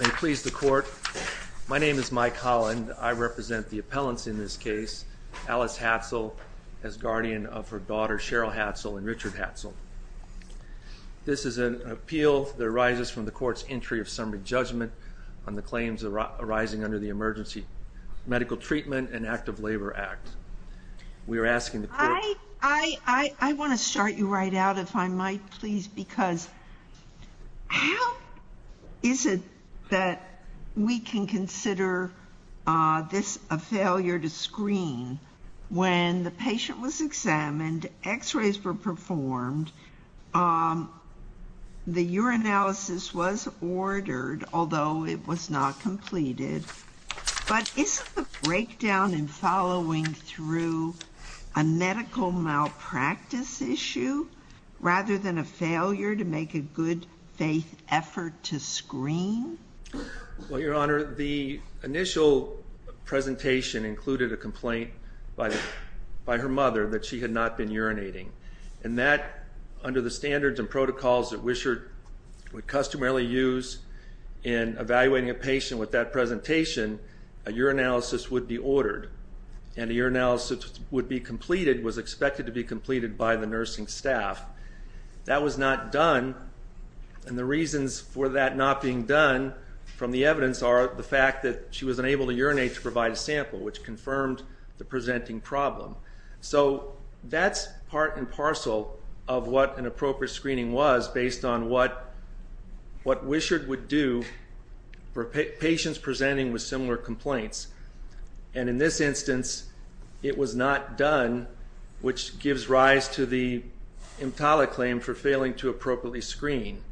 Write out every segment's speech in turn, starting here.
May it please the court, my name is Mike Holland. I represent the appellants in this case, Alice Hatzell, as guardian of her daughters Cheryl Hatzell and Richard Hatzell. This is an appeal that arises from the court's entry of summary judgment on the claims arising under the Emergency Medical Treatment and Active Labor Act. I want to start you right out if I might please, because how is it that we can consider this a failure to screen when the patient was examined, x-rays were performed, the urinalysis was ordered, although it was not completed, but isn't the breakdown in following through a medical malpractice issue rather than a failure to make a good faith effort to screen? Well, Your Honor, the initial presentation included a complaint by her mother that she had not been urinating, and that under the standards and protocols that Wisher would customarily use in evaluating a patient with that presentation, a urinalysis would be ordered, and the urinalysis would be completed, was expected to be completed by the nursing staff. That was not done, and the reasons for that not being done from the evidence are the fact that she was unable to urinate to provide a sample, which confirmed the presenting problem. So that's part and parcel of what an appropriate screening was based on what Wisher would do for patients presenting with similar complaints, and in this instance it was not done, which gives rise to the EMTALA claim for failing to appropriately screen.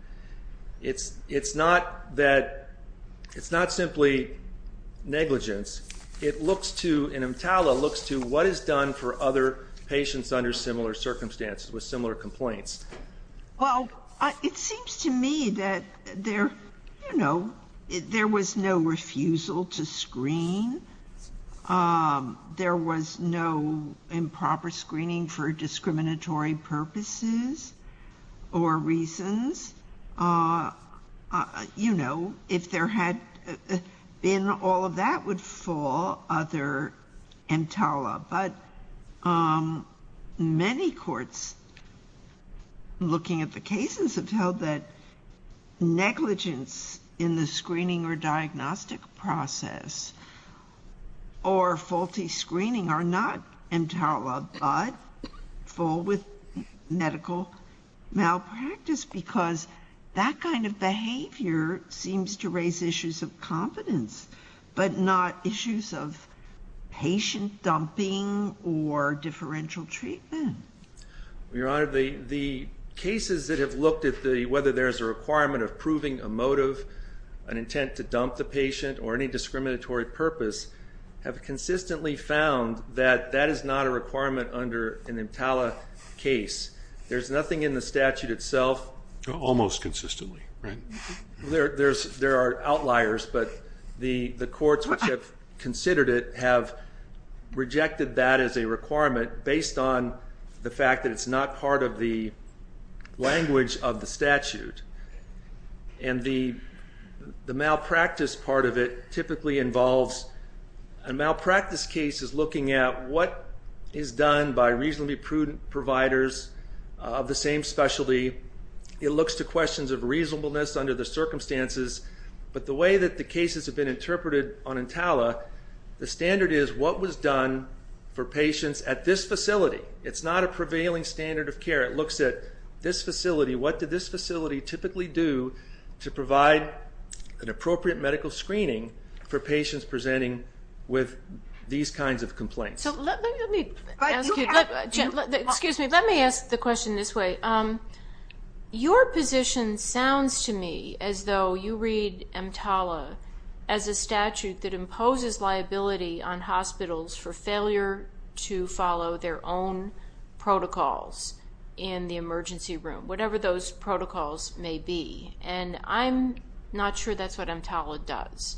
It's not that, it's not simply negligence, it looks to, and EMTALA looks to what is done for other patients under similar circumstances with similar complaints. Well, it seems to me that there, you know, there was no refusal to screen. There was no improper screening for discriminatory purposes or reasons. You know, if there had been all of that would fall under EMTALA, but many courts looking at the cases have held that negligence in the screening or diagnostic process or faulty screening are not EMTALA, but fall with medical malpractice, because that kind of behavior seems to raise issues of competence, but not issues of patient dumping or differential treatment. Your Honor, the cases that have looked at whether there's a requirement of proving a motive, an intent to dump the patient, or any discriminatory purpose, have consistently found that that is not a requirement under an EMTALA case. There's nothing in the statute itself. Almost consistently, right? There are outliers, but the courts which have considered it have rejected that as a requirement based on the fact that it's not part of the language of the statute. And the malpractice part of it typically involves a malpractice case is looking at what is done by reasonably prudent providers of the same specialty. It looks to questions of reasonableness under the circumstances, but the way that the cases have been interpreted on EMTALA, the standard is what was done for patients at this facility. It's not a prevailing standard of care. It looks at this facility. What did this facility typically do to provide an appropriate medical screening for patients presenting with these kinds of complaints? Excuse me. Let me ask the question this way. Your position sounds to me as though you read EMTALA as a statute that imposes liability on hospitals for failure to follow their own protocols in the emergency room, whatever those protocols may be. And I'm not sure that's what EMTALA does.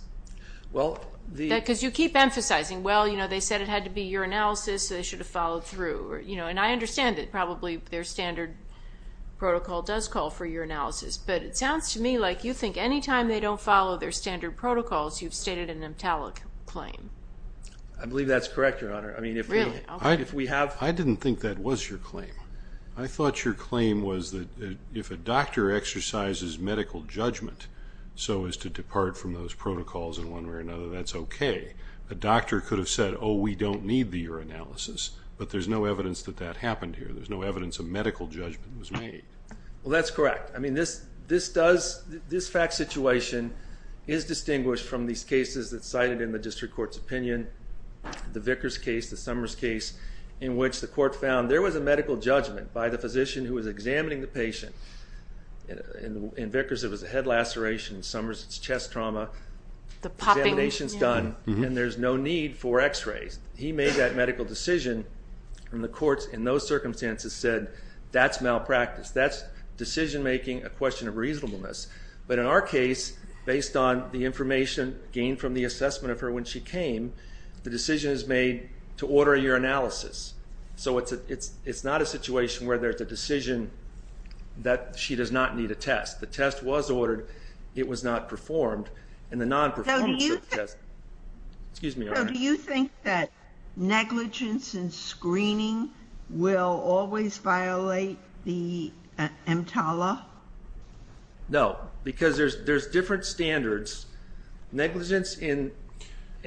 Because you keep emphasizing, well, they said it had to be your analysis, so they should have followed through. And I understand that probably their standard protocol does call for your analysis. But it sounds to me like you think any time they don't follow their standard protocols, you've stated an EMTALA claim. I believe that's correct, Your Honor. Really? Okay. I didn't think that was your claim. I thought your claim was that if a doctor exercises medical judgment so as to depart from those protocols in one way or another, that's okay. A doctor could have said, oh, we don't need the urinalysis. But there's no evidence that that happened here. There's no evidence a medical judgment was made. Well, that's correct. I mean, this fact situation is distinguished from these cases that's cited in the district court's opinion. The Vickers case, the Summers case, in which the court found there was a medical judgment by the physician who was examining the patient. In Vickers, it was a head laceration. In Summers, it's chest trauma. The popping. Examination's done, and there's no need for x-rays. He made that medical decision, and the courts in those circumstances said, that's malpractice. That's decision-making, a question of reasonableness. But in our case, based on the information gained from the assessment of her when she came, the decision is made to order a urinalysis. So it's not a situation where there's a decision that she does not need a test. The test was ordered. It was not performed. And the non-performance of the test. Do you think that negligence in screening will always violate the EMTALA? No, because there's different standards. Negligence in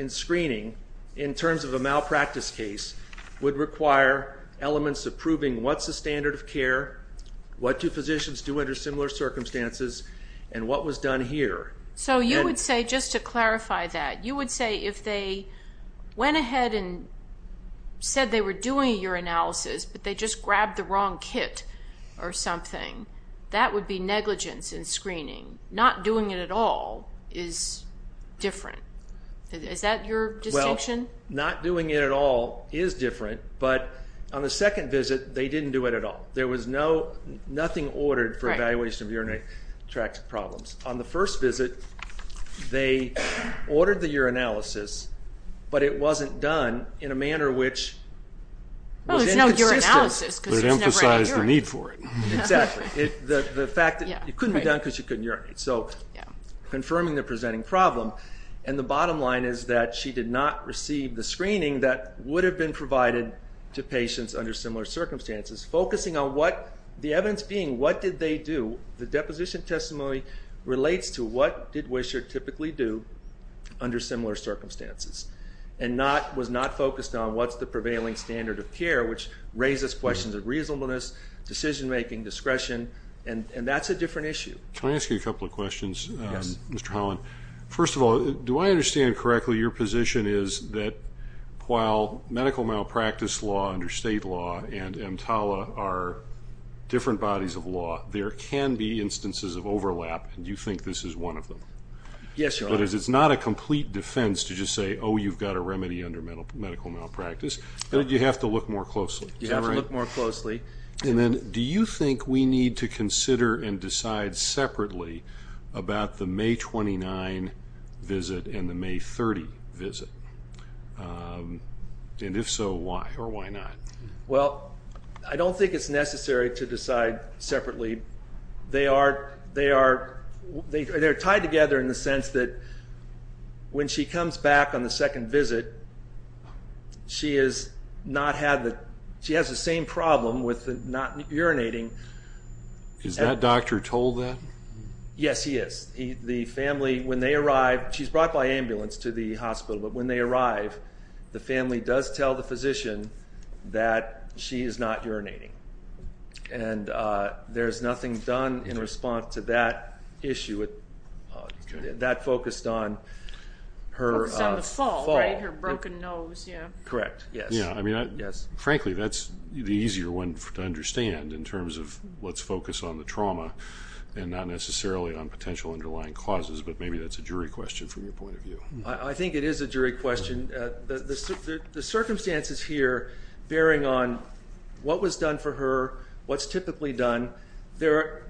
screening, in terms of a malpractice case, would require elements of proving what's the standard of care, what do physicians do under similar circumstances, and what was done here. So you would say, just to clarify that, you would say if they went ahead and said they were doing a urinalysis, but they just grabbed the wrong kit or something, that would be negligence in screening. Not doing it at all is different. Is that your distinction? Well, not doing it at all is different, but on the second visit, they didn't do it at all. There was nothing ordered for evaluation of urinary tract problems. On the first visit, they ordered the urinalysis, but it wasn't done in a manner which was inconsistent. It emphasized the need for it. Exactly. The fact that it couldn't be done because she couldn't urinate. So confirming the presenting problem. And the bottom line is that she did not receive the screening that would have been provided to patients under similar circumstances, focusing on the evidence being what did they do. The deposition testimony relates to what did Wisher typically do under similar circumstances and was not focused on what's the prevailing standard of care, which raises questions of reasonableness, decision-making, discretion, and that's a different issue. Can I ask you a couple of questions, Mr. Holland? First of all, do I understand correctly your position is that while medical malpractice law under state law and EMTALA are different bodies of law, there can be instances of overlap, and you think this is one of them? Yes, Your Honor. That is, it's not a complete defense to just say, oh, you've got a remedy under medical malpractice. You have to look more closely. You have to look more closely. And then do you think we need to consider and decide separately about the May 29 visit and the May 30 visit? And if so, why or why not? Well, I don't think it's necessary to decide separately. They are tied together in the sense that when she comes back on the second visit, she has the same problem with not urinating. Is that doctor told that? Yes, he is. The family, when they arrive, she's brought by ambulance to the hospital, but when they arrive, the family does tell the physician that she is not urinating. And there's nothing done in response to that issue. That focused on her fall. Her broken nose, yeah. Correct, yes. Frankly, that's the easier one to understand in terms of what's focused on the trauma and not necessarily on potential underlying causes, but maybe that's a jury question from your point of view. I think it is a jury question. The circumstances here bearing on what was done for her, what's typically done, they're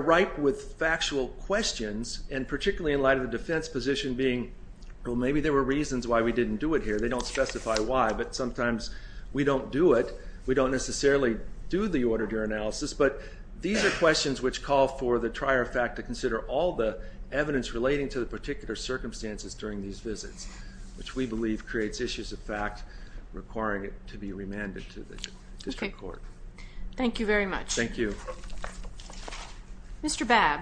ripe with factual questions, and particularly in light of the defense position being, well, maybe there were reasons why we didn't do it here. They don't specify why, but sometimes we don't do it. We don't necessarily do the auditory analysis. But these are questions which call for the trier fact to consider all the evidence relating to the particular circumstances during these visits, which we believe creates issues of fact requiring it to be remanded to the district court. Okay. Thank you very much. Thank you. Mr. Babb.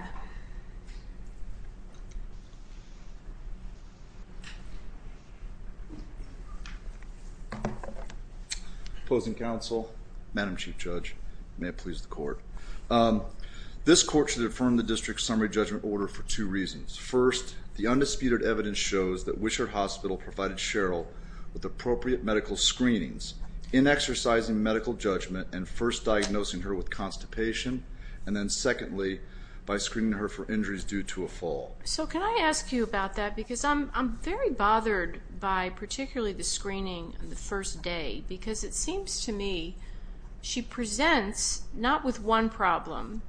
Opposing counsel? Madam Chief Judge, may it please the court. This court should affirm the district summary judgment order for two reasons. First, the undisputed evidence shows that Wishart Hospital provided Cheryl with appropriate medical screenings in exercising medical judgment and first diagnosing her with constipation, and then secondly, by screening her for injuries due to a fall. So can I ask you about that? Because I'm very bothered by particularly the screening on the first day, because it seems to me she presents not with one problem,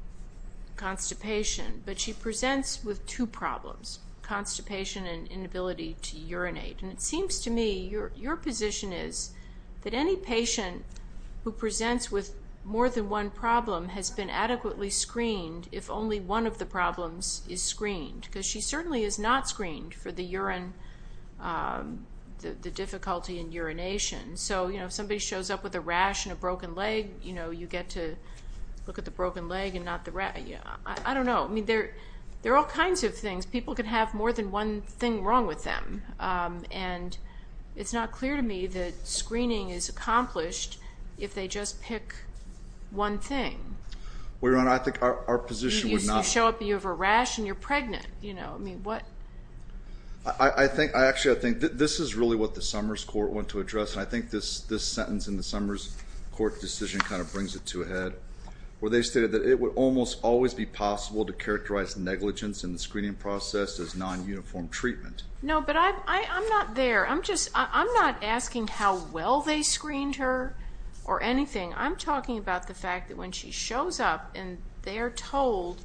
constipation, but she presents with two problems, constipation and inability to urinate. And it seems to me your position is that any patient who presents with more than one problem has been adequately screened if only one of the problems is screened, because she certainly is not screened for the difficulty in urination. So, you know, if somebody shows up with a rash and a broken leg, you know, you get to look at the broken leg and not the rash. I don't know. I mean, there are all kinds of things. People can have more than one thing wrong with them, and it's not clear to me that screening is accomplished if they just pick one thing. Well, Your Honor, I think our position would not be. You show up, you have a rash, and you're pregnant. You know, I mean, what? Actually, I think this is really what the Summers Court went to address, and I think this sentence in the Summers Court decision kind of brings it to a head, where they stated that it would almost always be possible to characterize negligence in the screening process as non-uniform treatment. No, but I'm not there. I'm not asking how well they screened her or anything. I'm talking about the fact that when she shows up and they are told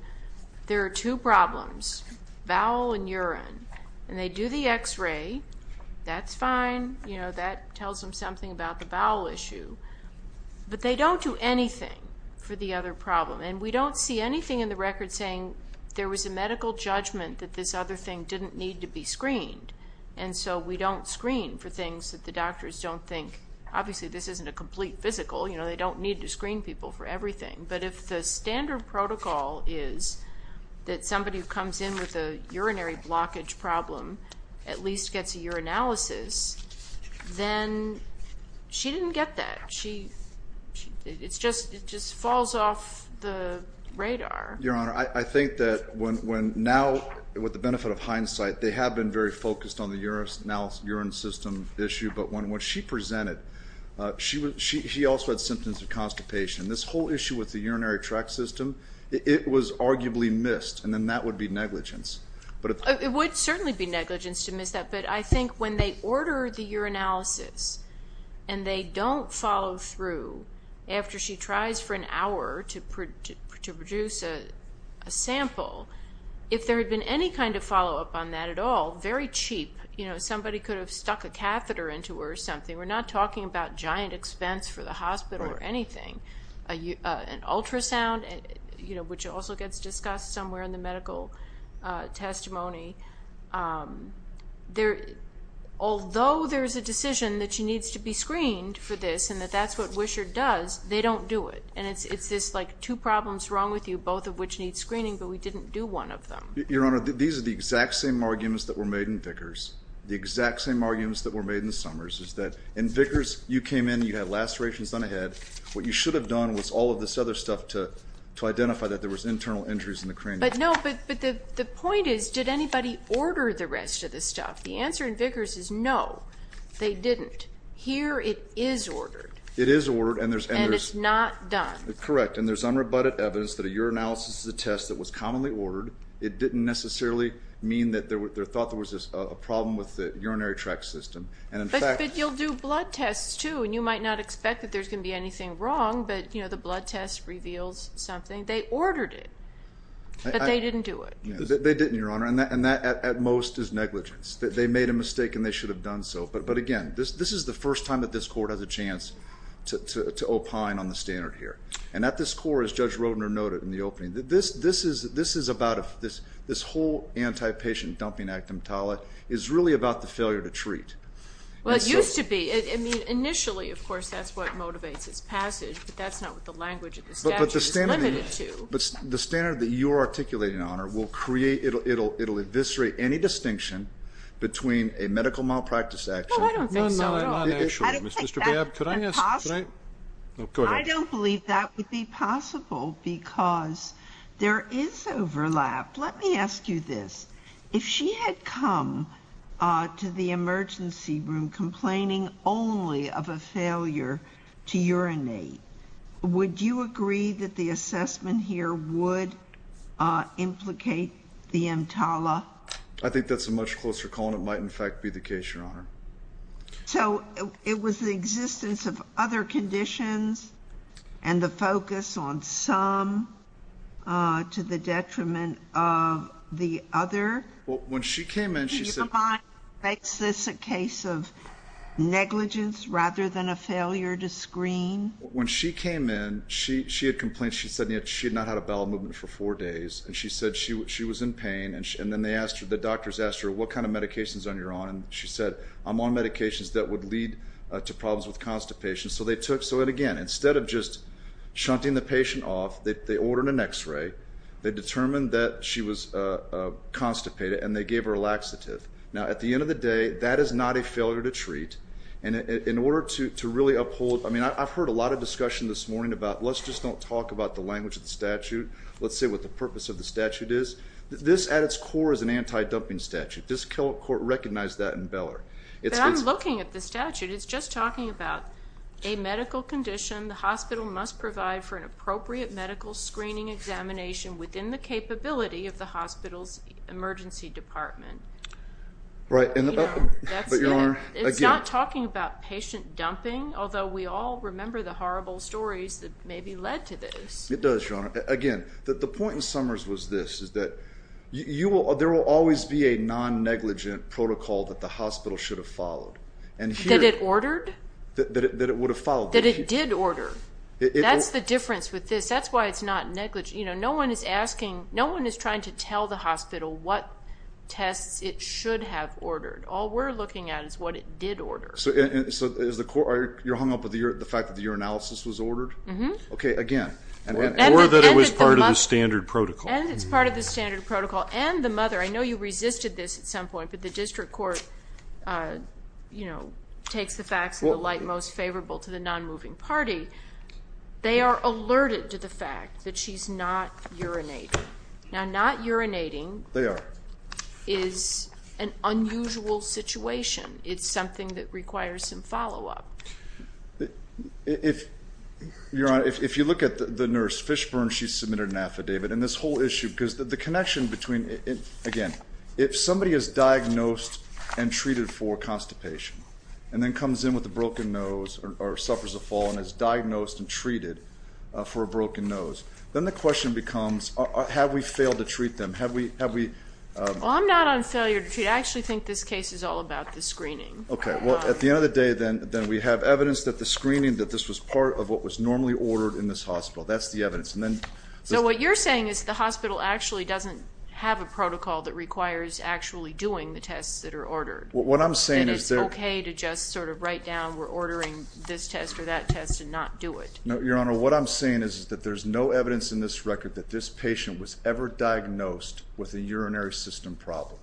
there are two problems, bowel and urine, and they do the X-ray, that's fine. You know, that tells them something about the bowel issue. But they don't do anything for the other problem, and we don't see anything in the record saying there was a medical judgment that this other thing didn't need to be screened. And so we don't screen for things that the doctors don't think. Obviously, this isn't a complete physical. You know, they don't need to screen people for everything. But if the standard protocol is that somebody who comes in with a urinary blockage problem at least gets a urinalysis, then she didn't get that. It just falls off the radar. Your Honor, I think that now, with the benefit of hindsight, they have been very focused on the urine system issue, but when she presented, she also had symptoms of constipation. This whole issue with the urinary tract system, it was arguably missed, and then that would be negligence. It would certainly be negligence to miss that, but I think when they order the urinalysis and they don't follow through after she tries for an hour to produce a sample, if there had been any kind of follow-up on that at all, very cheap. Somebody could have stuck a catheter into her or something. We're not talking about giant expense for the hospital or anything. An ultrasound, which also gets discussed somewhere in the medical testimony. Although there's a decision that she needs to be screened for this and that that's what Wisher does, they don't do it. And it's this, like, two problems wrong with you, both of which need screening, but we didn't do one of them. Your Honor, these are the exact same arguments that were made in Vickers. The exact same arguments that were made in Summers is that in Vickers, you came in, you had lacerations done ahead. What you should have done was all of this other stuff to identify that there was internal injuries in the cranium. But no, but the point is, did anybody order the rest of this stuff? The answer in Vickers is no, they didn't. Here it is ordered. It is ordered. And it's not done. Correct. And there's unrebutted evidence that a urinalysis is a test that was commonly ordered. It didn't necessarily mean that there was a problem with the urinary tract system. But you'll do blood tests, too, and you might not expect that there's going to be anything wrong, but the blood test reveals something. They ordered it, but they didn't do it. They didn't, Your Honor, and that at most is negligence. They made a mistake and they should have done so. But, again, this is the first time that this court has a chance to opine on the standard here. And at this court, as Judge Rodner noted in the opening, this is about this whole antipatient dumping act, EMTALA, is really about the failure to treat. Well, it used to be. I mean, initially, of course, that's what motivates its passage, but that's not what the language of the statute is limited to. But the standard that you're articulating, Your Honor, it will eviscerate any distinction between a medical malpractice action. No, I don't think so at all. Mr. Babb, could I ask a question? I don't believe that would be possible because there is overlap. Let me ask you this. If she had come to the emergency room complaining only of a failure to urinate, would you agree that the assessment here would implicate the EMTALA? I think that's a much closer call, and it might, in fact, be the case, Your Honor. So it was the existence of other conditions and the focus on some to the detriment of the other? Well, when she came in, she said— When she came in, she had complained. She said she had not had a bowel movement for four days, and she said she was in pain. And then the doctors asked her, what kind of medications are you on? And she said, I'm on medications that would lead to problems with constipation. So, again, instead of just shunting the patient off, they ordered an X-ray. They determined that she was constipated, and they gave her a laxative. Now, at the end of the day, that is not a failure to treat. In order to really uphold—I mean, I've heard a lot of discussion this morning about, let's just not talk about the language of the statute. Let's say what the purpose of the statute is. This, at its core, is an anti-dumping statute. This court recognized that in Beller. But I'm looking at the statute. It's just talking about a medical condition. The hospital must provide for an appropriate medical screening examination within the capability of the hospital's emergency department. Right. It's not talking about patient dumping, although we all remember the horrible stories that maybe led to this. It does, Your Honor. Again, the point in Summers was this, is that there will always be a non-negligent protocol that the hospital should have followed. That it ordered? That it would have followed. That it did order. That's the difference with this. That's why it's not negligent. No one is trying to tell the hospital what tests it should have ordered. All we're looking at is what it did order. So you're hung up with the fact that the urinalysis was ordered? Mm-hmm. Okay, again. Or that it was part of the standard protocol. And it's part of the standard protocol. And the mother, I know you resisted this at some point, but the district court takes the facts in the light most favorable to the non-moving party. They are alerted to the fact that she's not urinating. Now, not urinating is an unusual situation. It's something that requires some follow-up. Your Honor, if you look at the nurse Fishburn, she submitted an affidavit. And this whole issue, because the connection between, again, if somebody is diagnosed and treated for constipation and then comes in with a broken nose or suffers a fall and is diagnosed and treated for a broken nose, then the question becomes have we failed to treat them? Have we? Well, I'm not on failure to treat. I actually think this case is all about the screening. Okay, well, at the end of the day, then we have evidence that the screening, that this was part of what was normally ordered in this hospital. That's the evidence. So what you're saying is the hospital actually doesn't have a protocol that requires actually doing the tests that are ordered. What I'm saying is that It's okay to just sort of write down we're ordering this test or that test and not do it. Your Honor, what I'm saying is that there's no evidence in this record that this patient was ever diagnosed with a urinary system problem.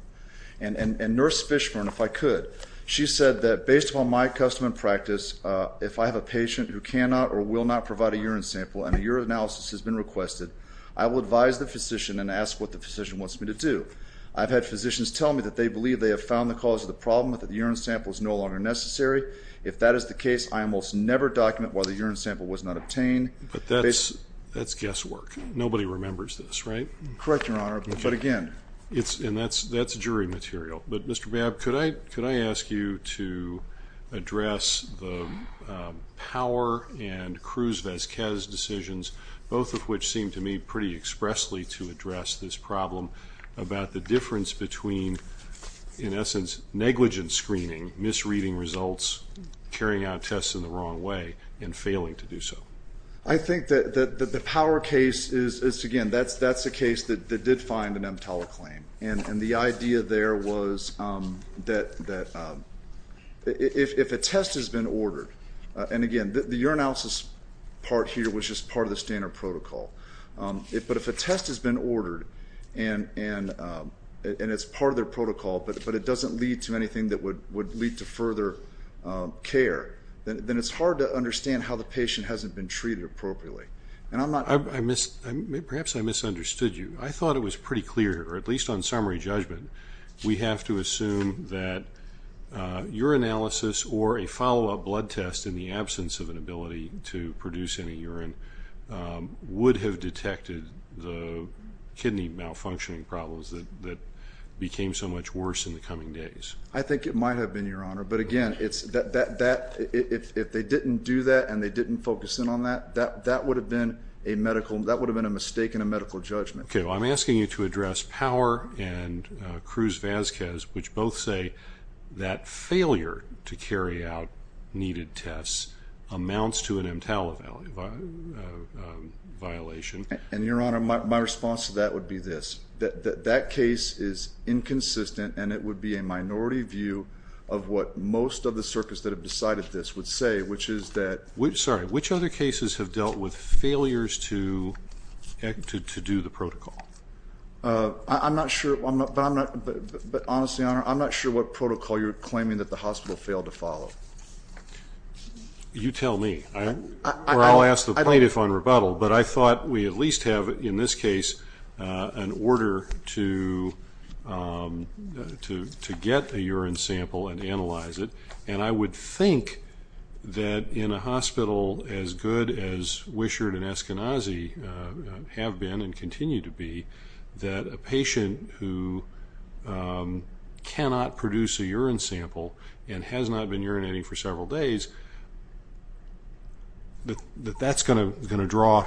And Nurse Fishburn, if I could, she said that based on my custom and practice, if I have a patient who cannot or will not provide a urine sample and a urine analysis has been requested, I will advise the physician and ask what the physician wants me to do. I've had physicians tell me that they believe they have found the cause of the problem that the urine sample is no longer necessary. If that is the case, I almost never document why the urine sample was not obtained. But that's guesswork. Nobody remembers this, right? Correct, Your Honor. But again, And that's jury material. But, Mr. Babb, could I ask you to address the Power and Cruz-Vezquez decisions, both of which seem to me pretty expressly to address this problem, about the difference between, in essence, negligent screening, misreading results, carrying out tests in the wrong way, and failing to do so? I think that the Power case is, again, that's a case that did find an EMTALA claim. And the idea there was that if a test has been ordered, and again, the urinalysis part here was just part of the standard protocol, but if a test has been ordered and it's part of their protocol but it doesn't lead to anything that would lead to further care, then it's hard to understand how the patient hasn't been treated appropriately. Perhaps I misunderstood you. I thought it was pretty clear, or at least on summary judgment, we have to assume that urinalysis or a follow-up blood test in the absence of an ability to produce any urine would have detected the kidney malfunctioning problems that became so much worse in the coming days. I think it might have been, Your Honor. But again, if they didn't do that and they didn't focus in on that, that would have been a mistake in a medical judgment. Okay. Well, I'm asking you to address Power and Cruz-Vazquez, which both say that failure to carry out needed tests amounts to an EMTALA violation. And, Your Honor, my response to that would be this. That case is inconsistent, and it would be a minority view of what most of the circuits that have decided this would say, Sorry, which other cases have dealt with failures to do the protocol? I'm not sure, but honestly, Your Honor, I'm not sure what protocol you're claiming that the hospital failed to follow. You tell me, or I'll ask the plaintiff on rebuttal. But I thought we at least have, in this case, an order to get a urine sample and analyze it. And I would think that in a hospital as good as Wishart and Eskenazi have been and continue to be, that a patient who cannot produce a urine sample and has not been urinating for several days, that that's going to draw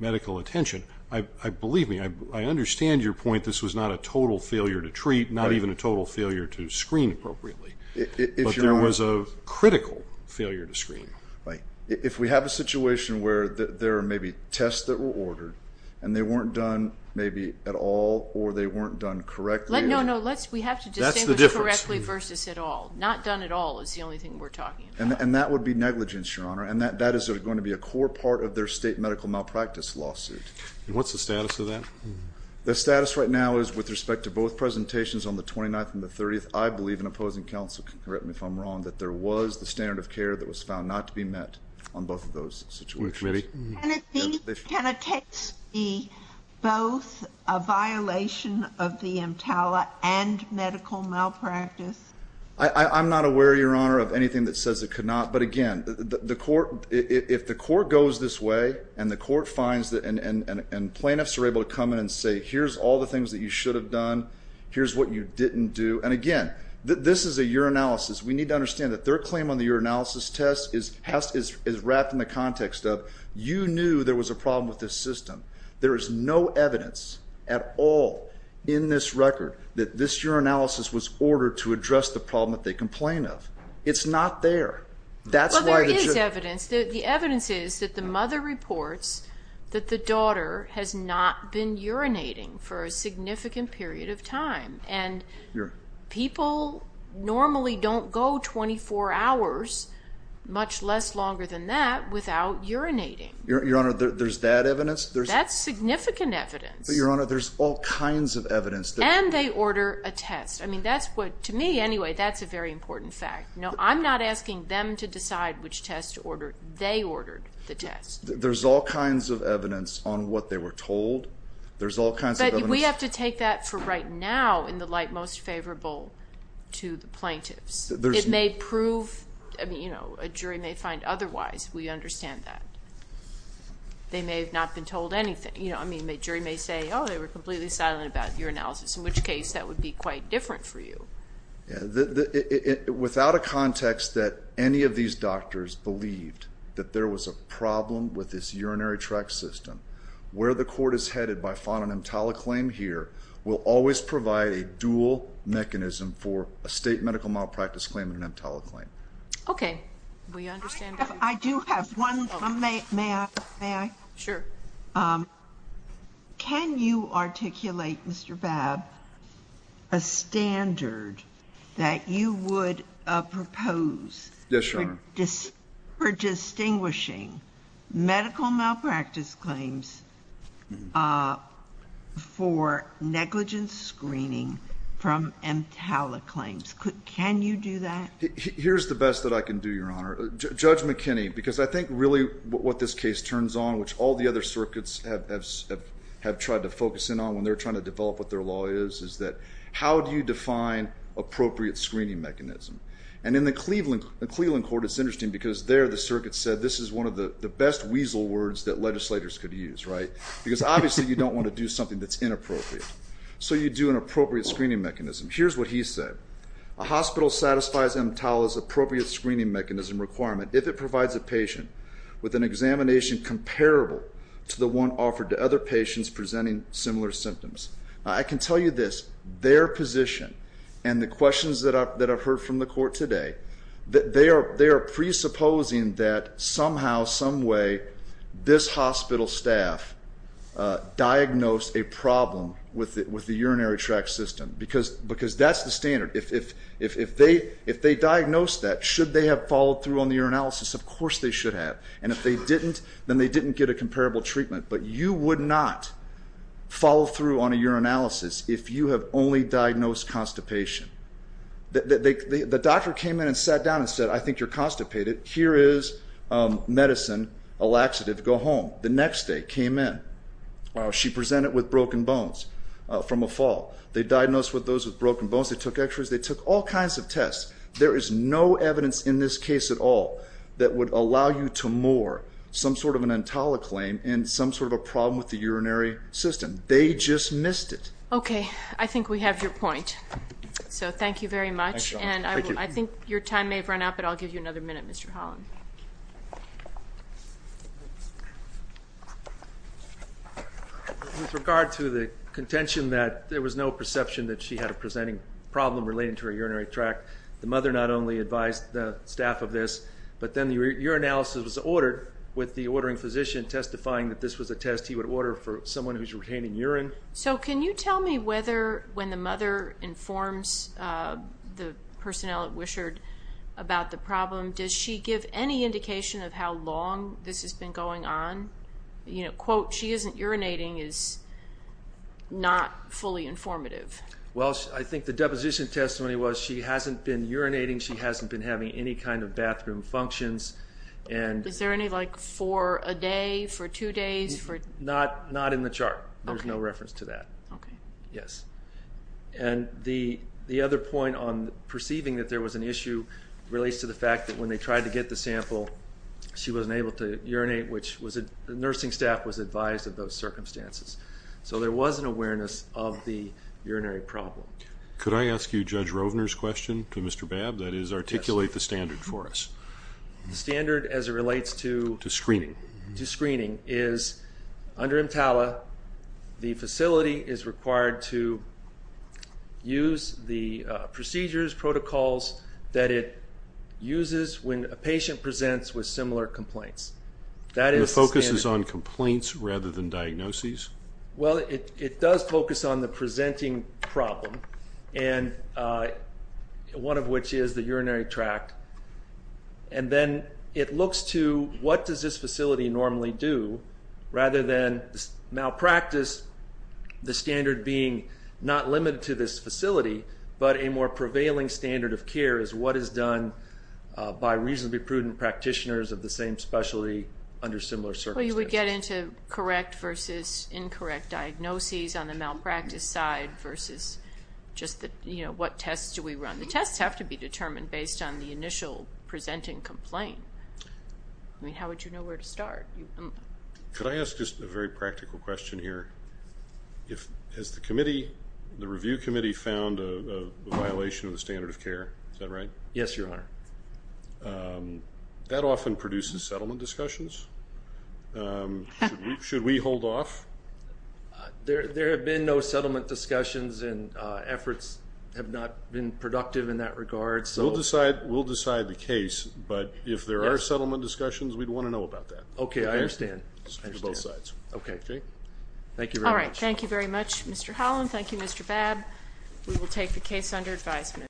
medical attention. Believe me, I understand your point. This was not a total failure to treat, not even a total failure to screen appropriately. But there was a critical failure to screen. If we have a situation where there are maybe tests that were ordered, and they weren't done maybe at all, or they weren't done correctly. No, no, we have to distinguish correctly versus at all. Not done at all is the only thing we're talking about. And that would be negligence, Your Honor, and that is going to be a core part of their state medical malpractice lawsuit. What's the status of that? The status right now is, with respect to both presentations on the 29th and the 30th, I believe, and opposing counsel can correct me if I'm wrong, that there was the standard of care that was found not to be met on both of those situations. Can it be both a violation of the EMTALA and medical malpractice? I'm not aware, Your Honor, of anything that says it could not. But, again, if the court goes this way and the court finds that and plaintiffs are able to come in and say, here's all the things that you should have done, here's what you didn't do. And, again, this is a urinalysis. We need to understand that their claim on the urinalysis test is wrapped in the context of, you knew there was a problem with this system. There is no evidence at all in this record that this urinalysis was ordered to address the problem that they complained of. It's not there. Well, there is evidence. The evidence is that the mother reports that the daughter has not been urinating for a significant period of time. And people normally don't go 24 hours, much less longer than that, without urinating. Your Honor, there's that evidence? That's significant evidence. But, Your Honor, there's all kinds of evidence. And they order a test. I mean, that's what, to me, anyway, that's a very important fact. I'm not asking them to decide which test to order. They ordered the test. There's all kinds of evidence on what they were told. There's all kinds of evidence. But we have to take that for right now in the light most favorable to the plaintiffs. It may prove, you know, a jury may find otherwise. We understand that. They may have not been told anything. I mean, a jury may say, oh, they were completely silent about urinalysis, in which case that would be quite different for you. Without a context that any of these doctors believed that there was a problem with this urinary tract system, where the court is headed by finding an EMTALA claim here will always provide a dual mechanism for a state medical malpractice claim and an EMTALA claim. Okay. I do have one. May I? Sure. Can you articulate, Mr. Babb, a standard that you would propose for distinguishing medical malpractice claims for negligence screening from EMTALA claims? Can you do that? Here's the best that I can do, Your Honor. Judge McKinney, because I think really what this case turns on, which all the other circuits have tried to focus in on when they're trying to develop what their law is, is that how do you define appropriate screening mechanism? And in the Cleveland court, it's interesting because there the circuit said this is one of the best weasel words that legislators could use, right? Because obviously you don't want to do something that's inappropriate. So you do an appropriate screening mechanism. Here's what he said. A hospital satisfies EMTALA's appropriate screening mechanism requirement if it provides a patient with an examination comparable to the one offered to other patients presenting similar symptoms. I can tell you this, their position and the questions that I've heard from the court today, they are presupposing that somehow, some way, this hospital staff diagnosed a problem with the urinary tract system. Because that's the standard. If they diagnosed that, should they have followed through on the urinalysis? Of course they should have. And if they didn't, then they didn't get a comparable treatment. But you would not follow through on a urinalysis if you have only diagnosed constipation. The doctor came in and sat down and said, I think you're constipated. Here is medicine, a laxative, go home. The next day came in. She presented with broken bones from a fall. They diagnosed those with broken bones. They took x-rays. They took all kinds of tests. There is no evidence in this case at all that would allow you to moor some sort of an EMTALA claim in some sort of a problem with the urinary system. They just missed it. Okay. I think we have your point. Thank you very much. I think your time may have run out, but I'll give you another minute, Mr. Holland. With regard to the contention that there was no perception that she had a presenting problem related to her urinary tract, the mother not only advised the staff of this, but then the urinalysis was ordered with the ordering physician testifying that this was a test he would order for someone who is retaining urine. So can you tell me whether when the mother informs the personnel at Wishard about the problem, does she give any indication of how long this has been going on? Quote, she isn't urinating is not fully informative. Well, I think the deposition testimony was she hasn't been urinating. She hasn't been having any kind of bathroom functions. Is there any, like, for a day, for two days? Not in the chart. There's no reference to that. Okay. Yes. And the other point on perceiving that there was an issue relates to the fact that when they tried to get the sample, she wasn't able to urinate, which the nursing staff was advised of those circumstances. So there was an awareness of the urinary problem. Could I ask you Judge Rovner's question to Mr. Babb? That is, articulate the standard for us. The standard as it relates to screening is under EMTALA, the facility is required to use the procedures, protocols that it uses when a patient presents with similar complaints. That is standard. And the focus is on complaints rather than diagnoses? Well, it does focus on the presenting problem, one of which is the urinary tract. And then it looks to what does this facility normally do rather than malpractice the standard being not limited to this facility, but a more prevailing standard of care is what is done by reasonably prudent practitioners of the same specialty under similar circumstances. So you would get into correct versus incorrect diagnoses on the malpractice side versus just the, you know, what tests do we run? The tests have to be determined based on the initial presenting complaint. I mean, how would you know where to start? Could I ask just a very practical question here? Has the committee, the review committee, found a violation of the standard of care? Is that right? Yes, Your Honor. That often produces settlement discussions. Should we hold off? There have been no settlement discussions, and efforts have not been productive in that regard. We'll decide the case, but if there are settlement discussions, we'd want to know about that. Okay, I understand. Both sides. Okay. Thank you very much. All right. Thank you very much, Mr. Holland. Thank you, Mr. Babb. We will take the case under advisement.